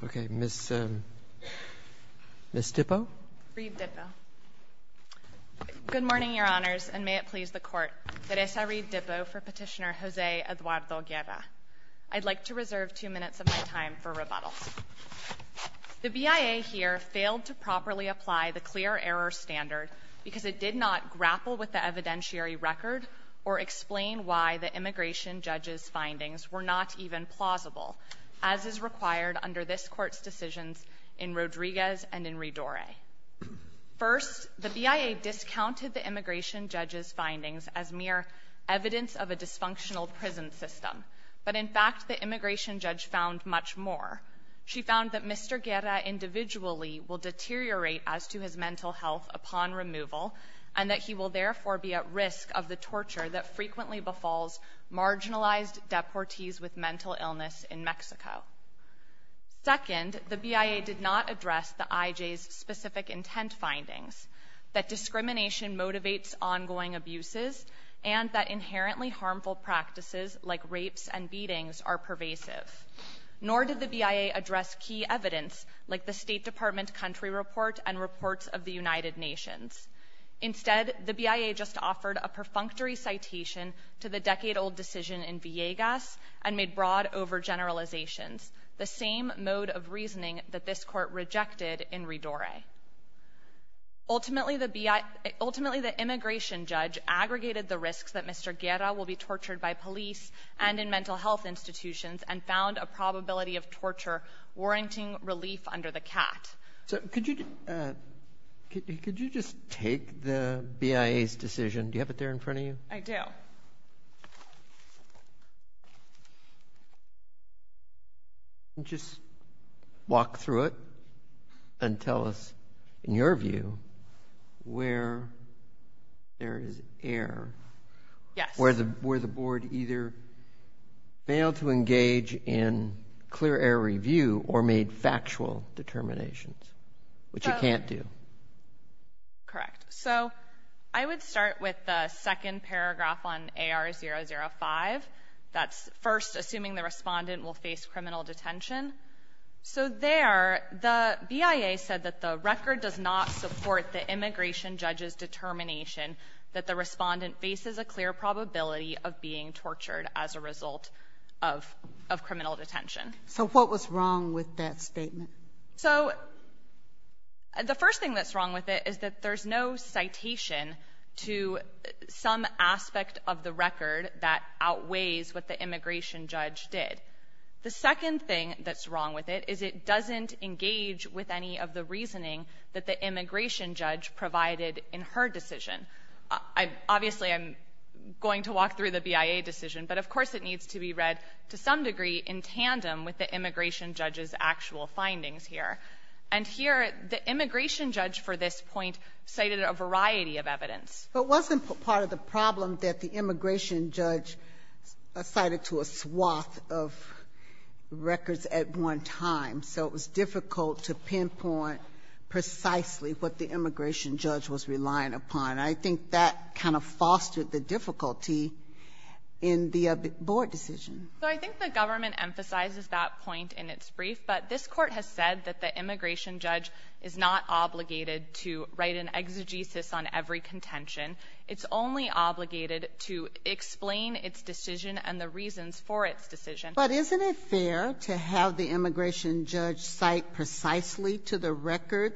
Good morning, Your Honors, and may it please the Court, Teresa Reed-Dippo for Petitioner Jose Eduardo Guerra. I'd like to reserve two minutes of my time for rebuttal. The BIA here failed to properly apply the clear error standard because it did not grapple with the evidentiary record or explain why the immigration judge's findings were not even plausible, as is required under this Court's decisions in Rodriguez and in Redore. First, the BIA discounted the immigration judge's findings as mere evidence of a dysfunctional prison system, but in fact the immigration judge found much more. She found that Mr. Guerra individually will deteriorate as to his mental health upon removal, and that he will therefore be at risk of the torture that frequently befalls marginalized deportees with mental illness in Mexico. Second, the BIA did not address the IJ's specific intent findings, that discrimination motivates ongoing abuses, and that inherently harmful practices like rapes and beatings are pervasive. Nor did the BIA address key evidence like the State Department country report and reports of the United Nations. Instead, the BIA just offered a perfunctory citation to the decade-old decision in Villegas and made broad overgeneralizations, the same mode of reasoning that this Court rejected in Redore. Ultimately, the immigration judge aggregated the risks that Mr. Guerra will be tortured by police and in mental health institutions and found a probability of torture warranting relief under the CAT. So, could you just take the BIA's decision, do you have it there in front of you? I do. Just walk through it and tell us, in your view, where there is error. Yes. Where the Board either failed to engage in clear error review or made factual determinations, which it can't do. Correct. So, I would start with the second paragraph on AR005. That's first, assuming the respondent will face criminal detention. So there, the BIA said that the record does not support the immigration judge's determination that the respondent faces a clear probability of being tortured as a result of criminal detention. So what was wrong with that statement? So the first thing that's wrong with it is that there's no citation to some aspect of the record that outweighs what the immigration judge did. The second thing that's that the immigration judge provided in her decision. Obviously, I'm going to walk through the BIA decision, but of course, it needs to be read to some degree in tandem with the immigration judge's actual findings here. And here, the immigration judge for this point cited a variety of evidence. But wasn't part of the problem that the immigration judge cited to a swath of records at one time. So it was difficult to pinpoint precisely what the immigration judge was relying upon. I think that kind of fostered the difficulty in the board decision. So I think the government emphasizes that point in its brief, but this Court has said that the immigration judge is not obligated to write an exegesis on every contention. It's only obligated to explain its decision and the reasons for its decision. But isn't it fair to have the immigration judge cite precisely to the record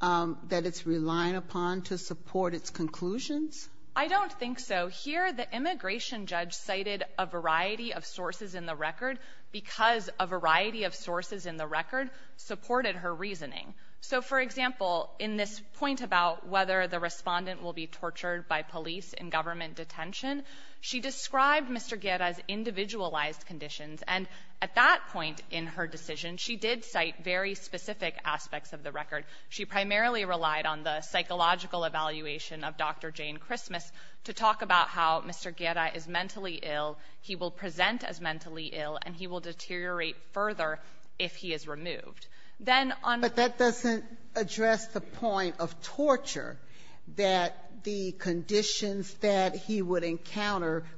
that it's relying upon to support its conclusions? I don't think so. Here, the immigration judge cited a variety of sources in the record because a variety of sources in the record supported her reasoning. So, for example, in this point about whether the respondent will be tortured by police in government detention, she described Mr. Guerra's individualized conditions. And at that point in her decision, she did cite very specific aspects of the record. She primarily relied on the psychological evaluation of Dr. Jane Christmas to talk about how Mr. Guerra is mentally ill, he will present as mentally ill, and he will deteriorate further if he is removed. Then, on the other hand, she cited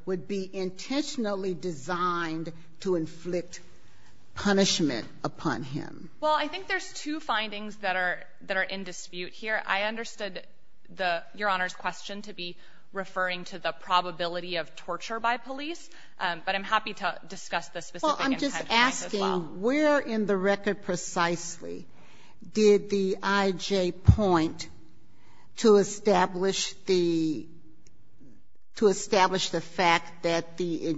a variety designed to inflict punishment upon him. Well, I think there's two findings that are in dispute here. I understood the Your Honor's question to be referring to the probability of torture by police, but I'm happy to discuss the specific intent of this as well. Well, I'm just asking, where in the record precisely did the IJ point to establish the to establish the fact that the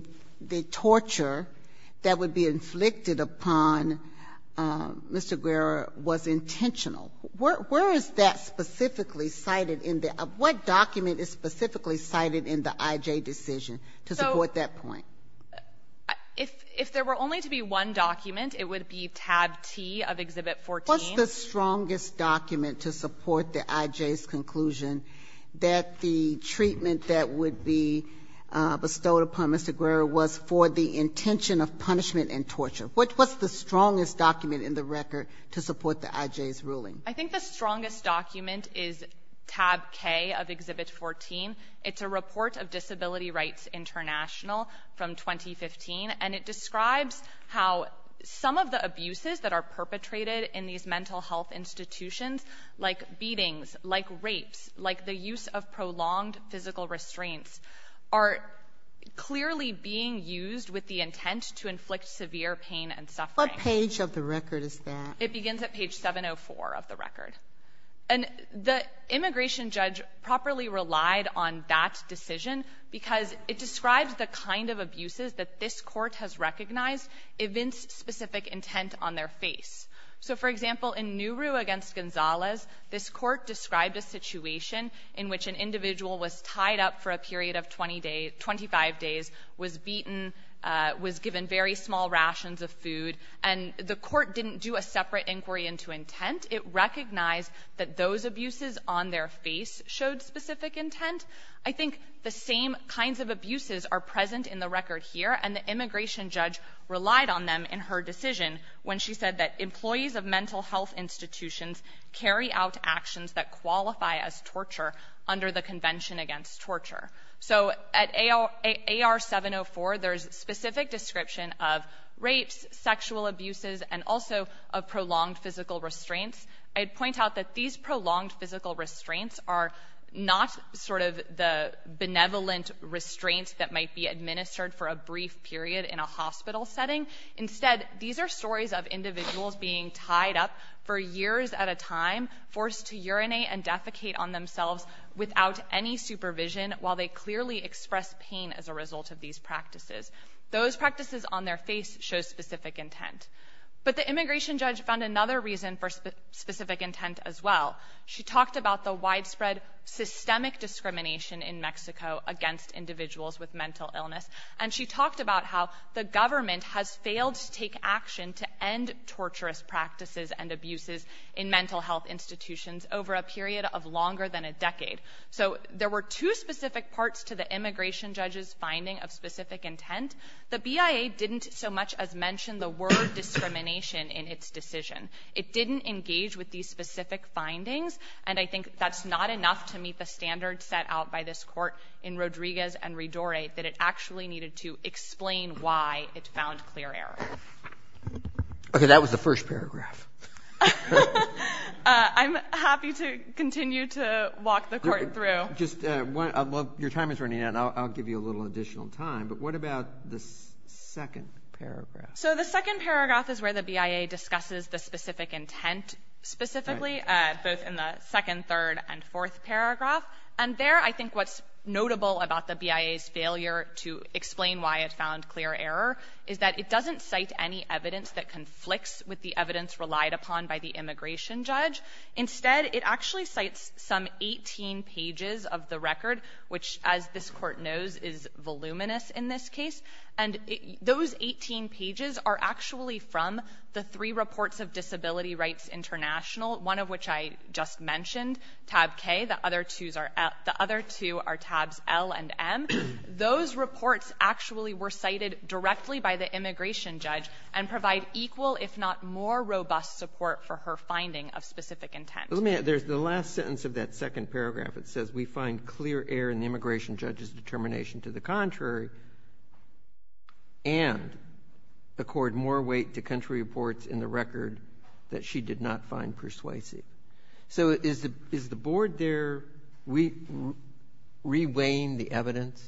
torture that would be inflicted upon Mr. Guerra was intentional? Where is that specifically cited in the what document is specifically cited in the IJ decision to support that point? So, if there were only to be one document, it would be tab T of Exhibit 14. What's the strongest document to support the IJ's conclusion that the treatment that would be bestowed upon Mr. Guerra was for the intention of punishment and torture? What's the strongest document in the record to support the IJ's ruling? I think the strongest document is tab K of Exhibit 14. It's a report of Disability Rights International from 2015, and it describes how some of the abuses that are perpetrated in these mental health institutions, like beatings, like rapes, like the use of prolonged physical restraints, are clearly being used with the intent to inflict severe pain and suffering. What page of the record is that? It begins at page 704 of the record. And the immigration judge properly relied on that decision because it describes the kind of abuses that this Court has recognized evince specific intent on their face. So, for example, in Nuru v. Gonzalez, this Court described a situation in which an individual was tied up for a period of 20 days, 25 days, was beaten, was given very small rations of food, and the Court didn't do a separate inquiry into intent. It recognized that those abuses on their face showed specific intent. I think the same kinds of abuses are present in the record here, and the immigration judge relied on them in her decision when she said that employees of mental health institutions carry out actions that qualify as torture under the Convention Against Torture. So at AR-704, there's a specific description of rapes, sexual abuses, and also of prolonged physical restraints. I'd point out that these prolonged physical restraints are not sort of the benevolent restraints that might be administered for a brief period in a hospital setting. Instead, these are stories of individuals being tied up for years at a time, forced to urinate and defecate on themselves without any supervision, while they clearly express pain as a result of these practices. Those practices on their face show specific intent. But the immigration judge found another reason for specific intent as well. She talked about the widespread systemic discrimination in Mexico against individuals with mental illness, and she talked about how the government has failed to take action to end torturous practices and abuses in mental health institutions over a period of longer than a decade. So there were two specific parts to the immigration judge's finding of specific intent. The BIA didn't so much as mention the word discrimination in its decision. It didn't engage with these specific findings. And I think that's not enough to meet the standards set out by this court in Rodriguez and Ridore, that it actually needed to explain why it found clear error. Okay. That was the first paragraph. I'm happy to continue to walk the court through. Just one other one. Your time is running out. I'll give you a little additional time. But what about the second paragraph? So the second paragraph is where the BIA discusses the specific intent specifically, both in the second, third, and fourth paragraph. And there, I think what's notable about the BIA's failure to explain why it found clear error is that it doesn't cite any evidence that conflicts with the evidence relied upon by the immigration judge. Instead, it actually cites some 18 pages of the record, which, as this Court knows, is voluminous in this case. And those 18 pages are actually from the three reports of Disability Rights International, one of which I just mentioned, tab K. The other two are at the other two are tabs L and M. Those reports actually were cited directly by the immigration judge and provide equal, if not more, robust support for her finding of specific intent. Let me add, there's the last sentence of that second paragraph. It says, we find clear error in the immigration judge's determination to the contrary, and accord more weight to country reports in the record that she did not find persuasive. So is the Board there re-weighing the evidence?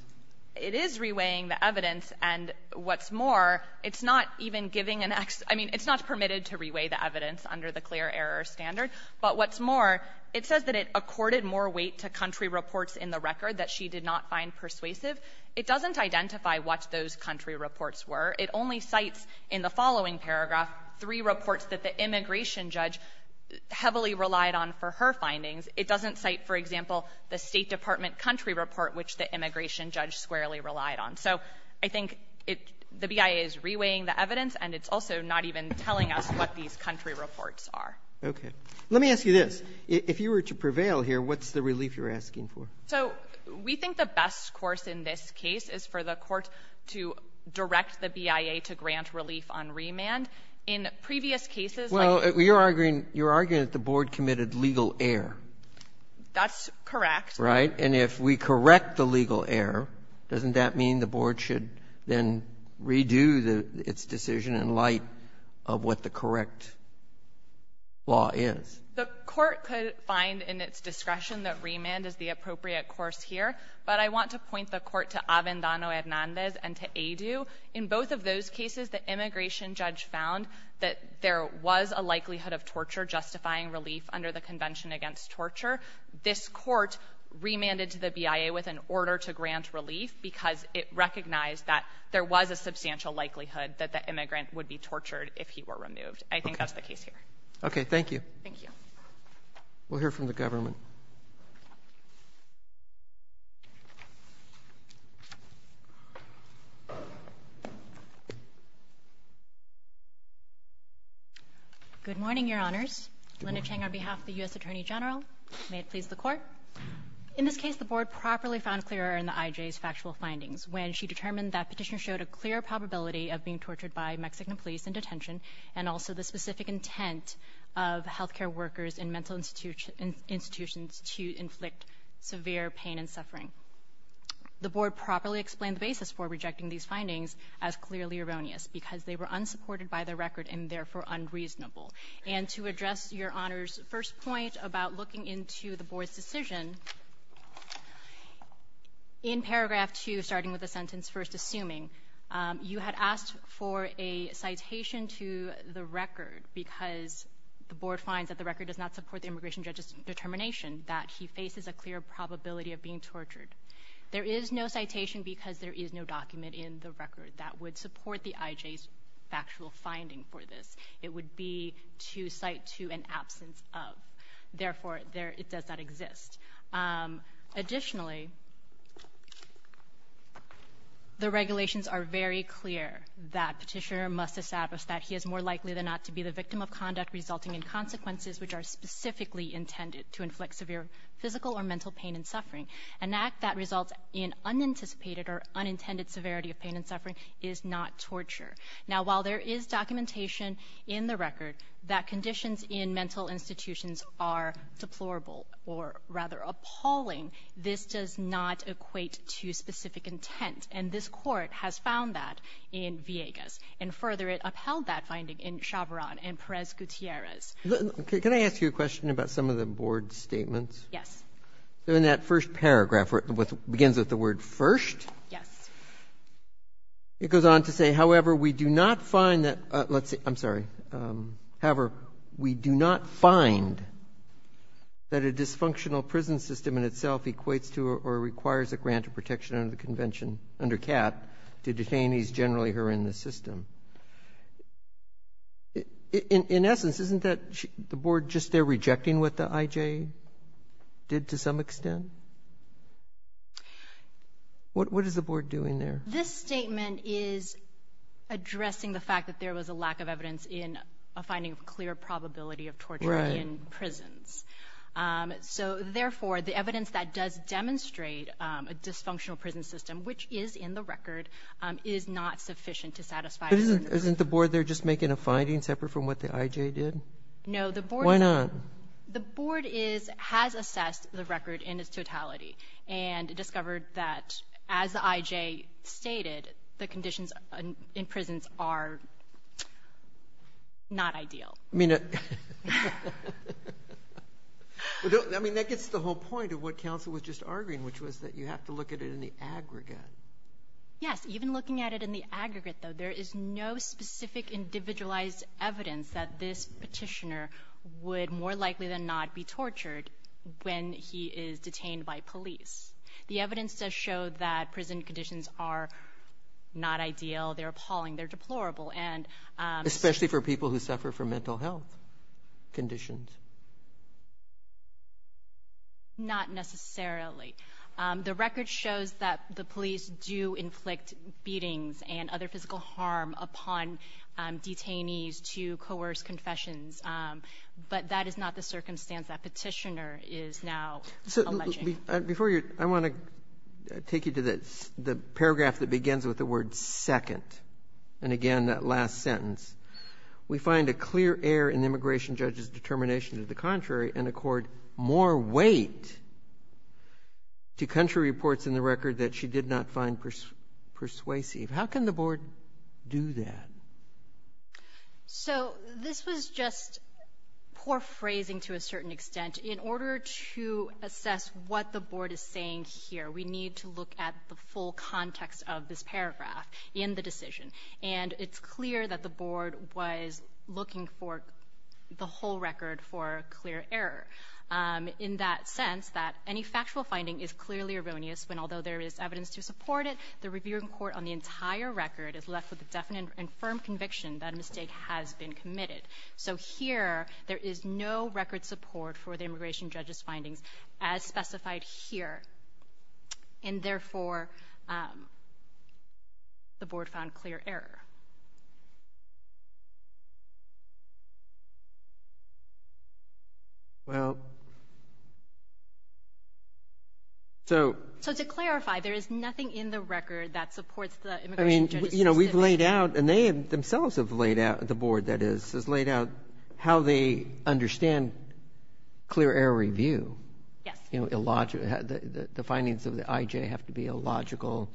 It is re-weighing the evidence. And what's more, it's not even giving an ex — I mean, it's not permitted to re-weigh the evidence under the clear error standard. But what's more, it says that it accorded more weight to country reports in the record than she did not find persuasive. It doesn't identify what those country reports were. It only cites in the following paragraph three reports that the immigration judge heavily relied on for her findings. It doesn't cite, for example, the State Department country report which the immigration judge squarely relied on. So I think it — the BIA is re-weighing the evidence, and it's also not even telling us what these country reports are. Roberts. Okay. Let me ask you this. If you were to prevail here, what's the relief you're asking for? So we think the best course in this case is for the Court to direct the BIA to grant relief on remand. In previous cases, like — Well, you're arguing — you're arguing that the Board committed legal error. That's correct. Right? And if we correct the legal error, doesn't that mean the Board should then redo its decision in light of what the correct law is? The Court could find in its discretion that remand is the appropriate course here, but I want to point the Court to Avendano-Hernandez and to Adu. In both of those cases, the immigration judge found that there was a likelihood of torture justifying relief under the Convention Against Torture. This Court remanded to the BIA with an order to grant relief because it recognized that there was a substantial likelihood that the immigrant would be tortured if he were removed. I think that's the case here. Okay. Thank you. We'll hear from the government. Good morning, Your Honors. Linda Cheng on behalf of the U.S. Attorney General. May it please the Court. In this case, the Board properly found clear error in the IJ's factual findings when she determined that petitions showed a clear probability of being tortured by Mexican police in detention and also the specific intent of healthcare workers in mental institutions to inflict severe pain and suffering. The Board properly explained the basis for rejecting these findings as clearly erroneous because they were unsupported by the record and therefore unreasonable. And to address Your Honor's first point about looking into the Board's decision, in paragraph 2, starting with the sentence, first assuming, you had asked for a support the immigration judge's determination that he faces a clear probability of being tortured. There is no citation because there is no document in the record that would support the IJ's factual finding for this. It would be to cite to an absence of. Therefore, it does not exist. Additionally, the regulations are very clear that Petitioner must establish that he is more likely than not to be the victim of conduct resulting in consequences which are specifically intended to inflict severe physical or mental pain and suffering. An act that results in unanticipated or unintended severity of pain and suffering is not torture. Now, while there is documentation in the record that conditions in mental institutions are deplorable or rather appalling, this does not equate to that finding in Chavarron and Perez-Gutierrez. Can I ask you a question about some of the Board's statements? Yes. In that first paragraph where it begins with the word first. Yes. It goes on to say, however, we do not find that, let's see, I'm sorry, however, we do not find that a dysfunctional prison system in itself equates to or requires a grant of protection under the Convention, under CAT, to detainees generally who are in the system. In essence, isn't that the Board just there rejecting what the IJ did to some extent? What is the Board doing there? This statement is addressing the fact that there was a lack of evidence in a finding of clear probability of torture in prisons. Right. So, therefore, the evidence that does demonstrate a dysfunctional prison system, which is in the record, is not sufficient to satisfy certain conditions. Isn't the Board there just making a finding separate from what the IJ did? No. Why not? The Board has assessed the record in its totality and discovered that, as the IJ stated, the conditions in prisons are not ideal. I mean, that gets to the whole point of what counsel was just arguing, which was that you have to look at it in the aggregate. Yes, even looking at it in the aggregate, though, there is no specific individualized evidence that this petitioner would more likely than not be tortured when he is detained by police. The evidence does show that prison conditions are not ideal. They're appalling. They're deplorable. Especially for people who suffer from mental health conditions. Not necessarily. The record shows that the police do inflict beatings and other physical harm upon detainees to coerce confessions, but that is not the circumstance that petitioner is now alleging. Before you go, I want to take you to the paragraph that begins with the word second. And again, that last sentence. We find a clear error in the immigration judge's determination to the contrary and accord more weight to country reports in the record that she did not find persuasive. How can the Board do that? So this was just poor phrasing to a certain extent. In order to assess what the Board is saying here, we need to look at the full context of this paragraph in the decision. And it's clear that the Board was looking for the whole record for clear error. In that sense, that any factual finding is clearly erroneous when although there is evidence to support it, the reviewing court on the entire record is left with a definite and firm conviction that a mistake has been committed. So here, there is no record support for the immigration judge's findings as specified here. And therefore, the Board found clear error. So to clarify, there is nothing in the record that supports the immigration judge's decision? I mean, you know, we've laid out, and they themselves have laid out, the Board, that is, has laid out how they understand clear error review. Yes. The findings of the IJ have to be illogical,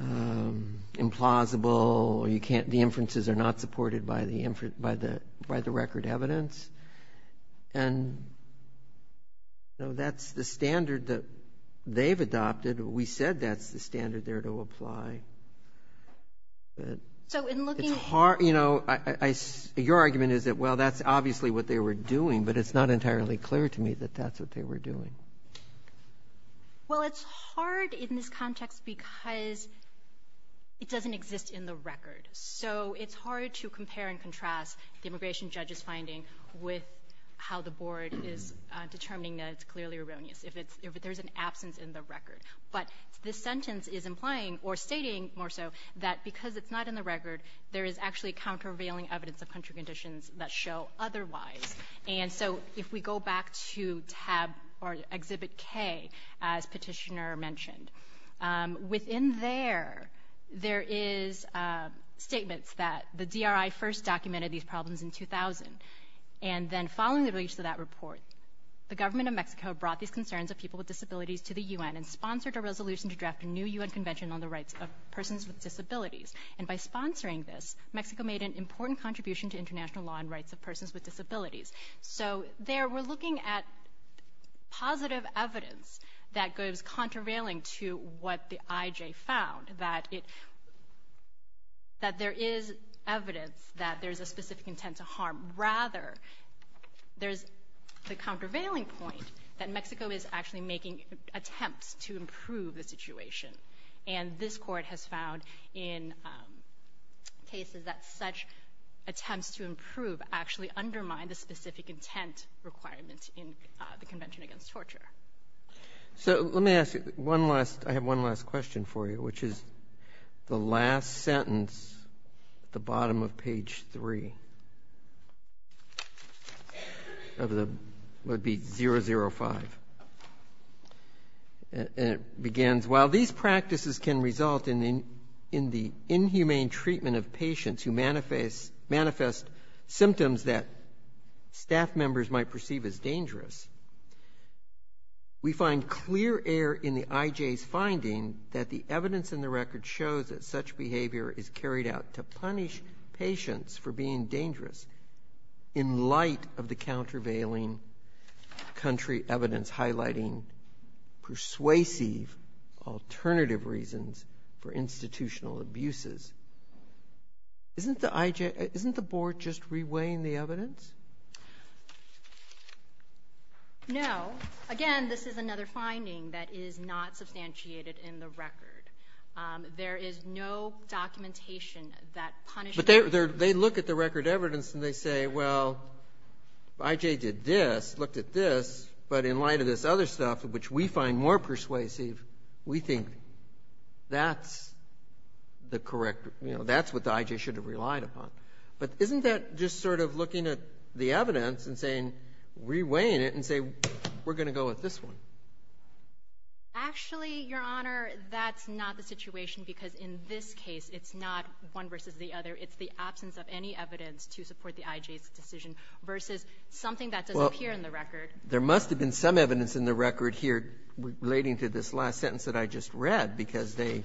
implausible. The inferences are not supported by the record evidence. And, you know, that's the standard that they've adopted. We said that's the standard there to apply. But it's hard, you know, your argument is that, well, that's obviously what they were doing, but it's not entirely clear to me that that's what they were doing. Well, it's hard in this context because it doesn't exist in the record. So it's hard to compare and contrast the immigration judge's finding with how the Board is determining that it's clearly erroneous if there's an absence in the record. But this sentence is implying or stating more so that because it's not in the record, there is actually countervailing evidence of country conditions that show otherwise. And so if we go back to Tab or Exhibit K, as Petitioner mentioned, within there, there is statements that the DRI first documented these problems in 2000. And then following the release of that report, the Government of Mexico brought these concerns of people with disabilities to the U.N. and sponsored a resolution to draft a new U.N. Convention on the Rights of Persons with Disabilities. And by sponsoring this, Mexico made an important contribution to international law and rights of persons with disabilities. So there we're looking at positive evidence that goes countervailing to what the IJ found, that there is evidence that there's a specific intent to harm. Rather, there's the countervailing point that Mexico is actually making attempts to improve the situation. And this court has found in cases that such attempts to improve actually undermine the specific intent requirement in the Convention Against Torture. So let me ask you one last question for you, which is the last sentence at the bottom of And while these practices can result in the inhumane treatment of patients who manifest symptoms that staff members might perceive as dangerous, we find clear error in the IJ's finding that the evidence in the record shows that such behavior is carried out to punish patients for being dangerous in light of the countervailing country evidence highlighting persuasive alternative reasons for institutional abuses. Isn't the IJ — isn't the Board just reweighing the evidence? No. Again, this is another finding that is not substantiated in the record. There is no documentation that punishes — But they look at the record evidence and they say, well, IJ did this, looked at this, but in light of this other stuff, which we find more persuasive, we think that's the correct — you know, that's what the IJ should have relied upon. But isn't that just sort of looking at the evidence and saying — reweighing it and say, we're going to go with this one? Actually, Your Honor, that's not the situation because in this case it's not one versus the other. It's the absence of any evidence to support the IJ's decision versus something that doesn't appear in the record. There must have been some evidence in the record here relating to this last sentence that I just read because they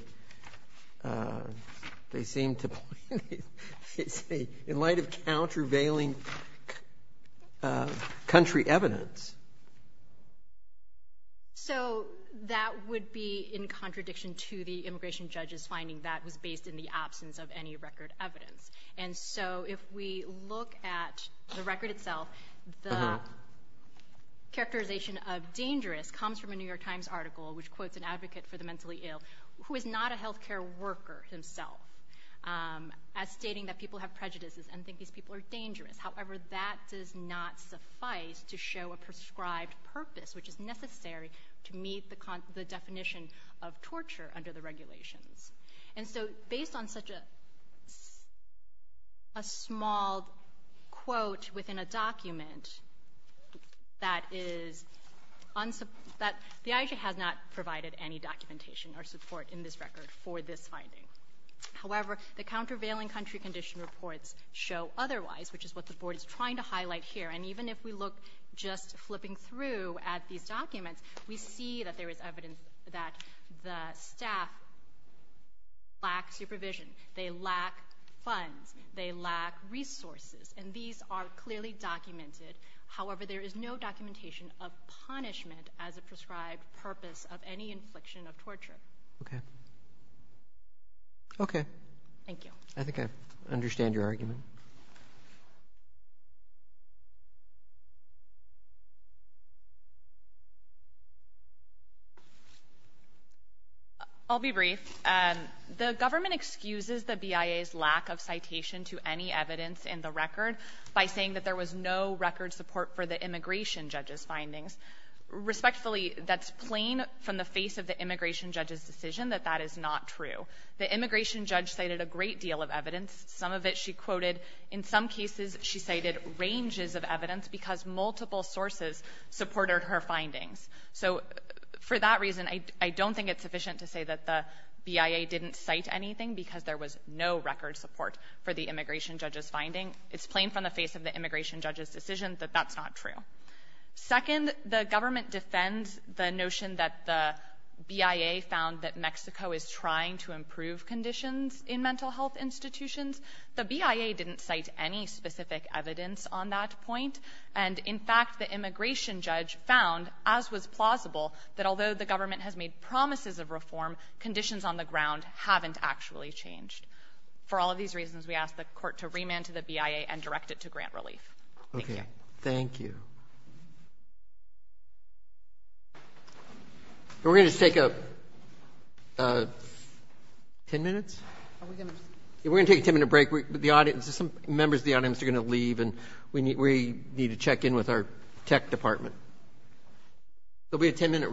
seem to point — in light of countervailing country evidence. So that would be in contradiction to the immigration judge's finding that was based in the absence of any record evidence. And so if we look at the record itself, the characterization of dangerous comes from a New York Times article which quotes an advocate for the mentally ill who is not a healthcare worker himself as stating that people have prejudices and think these people are dangerous. However, that does not suffice to show a prescribed purpose, which is necessary to meet the definition of torture under the regulations. And so based on such a small quote within a document, the IJ has not provided any documentation or support in this record for this finding. However, the countervailing country condition reports show otherwise, which is what the Board is trying to highlight here. And even if we look just flipping through at these documents, we see that there is evidence that the staff lacks supervision. They lack funds. They lack resources. And these are clearly documented. However, there is no documentation of punishment as a prescribed purpose of any infliction of torture. Okay. Okay. Thank you. I think I understand your argument. I'll be brief. The government excuses the BIA's lack of citation to any evidence in the record by saying that there was no record support for the immigration judge's findings. Respectfully, that's plain from the face of the immigration judge's decision that that is not true. The immigration judge cited a great deal of evidence. Some of it she quoted. In some cases, she cited ranges of evidence because multiple sources supported her findings. So, for that reason, I don't think it's sufficient to say that the BIA didn't cite anything because there was no record support for the immigration judge's finding. It's plain from the face of the immigration judge's decision that that's not true. Second, the government defends the notion that the BIA found that Mexico is trying to improve conditions in mental health institutions. The BIA didn't cite any specific evidence on that point. And, in fact, the immigration judge found, as was plausible, that although the government has made promises of reform, conditions on the ground haven't actually changed. For all of these reasons, we ask the Court to remand to the BIA and direct it to grant relief. Thank you. Thank you. We're going to take a 10 minutes? We're going to take a 10-minute break. Members of the audience are going to leave, and we need to check in with our tech department. There will be a 10-minute recess.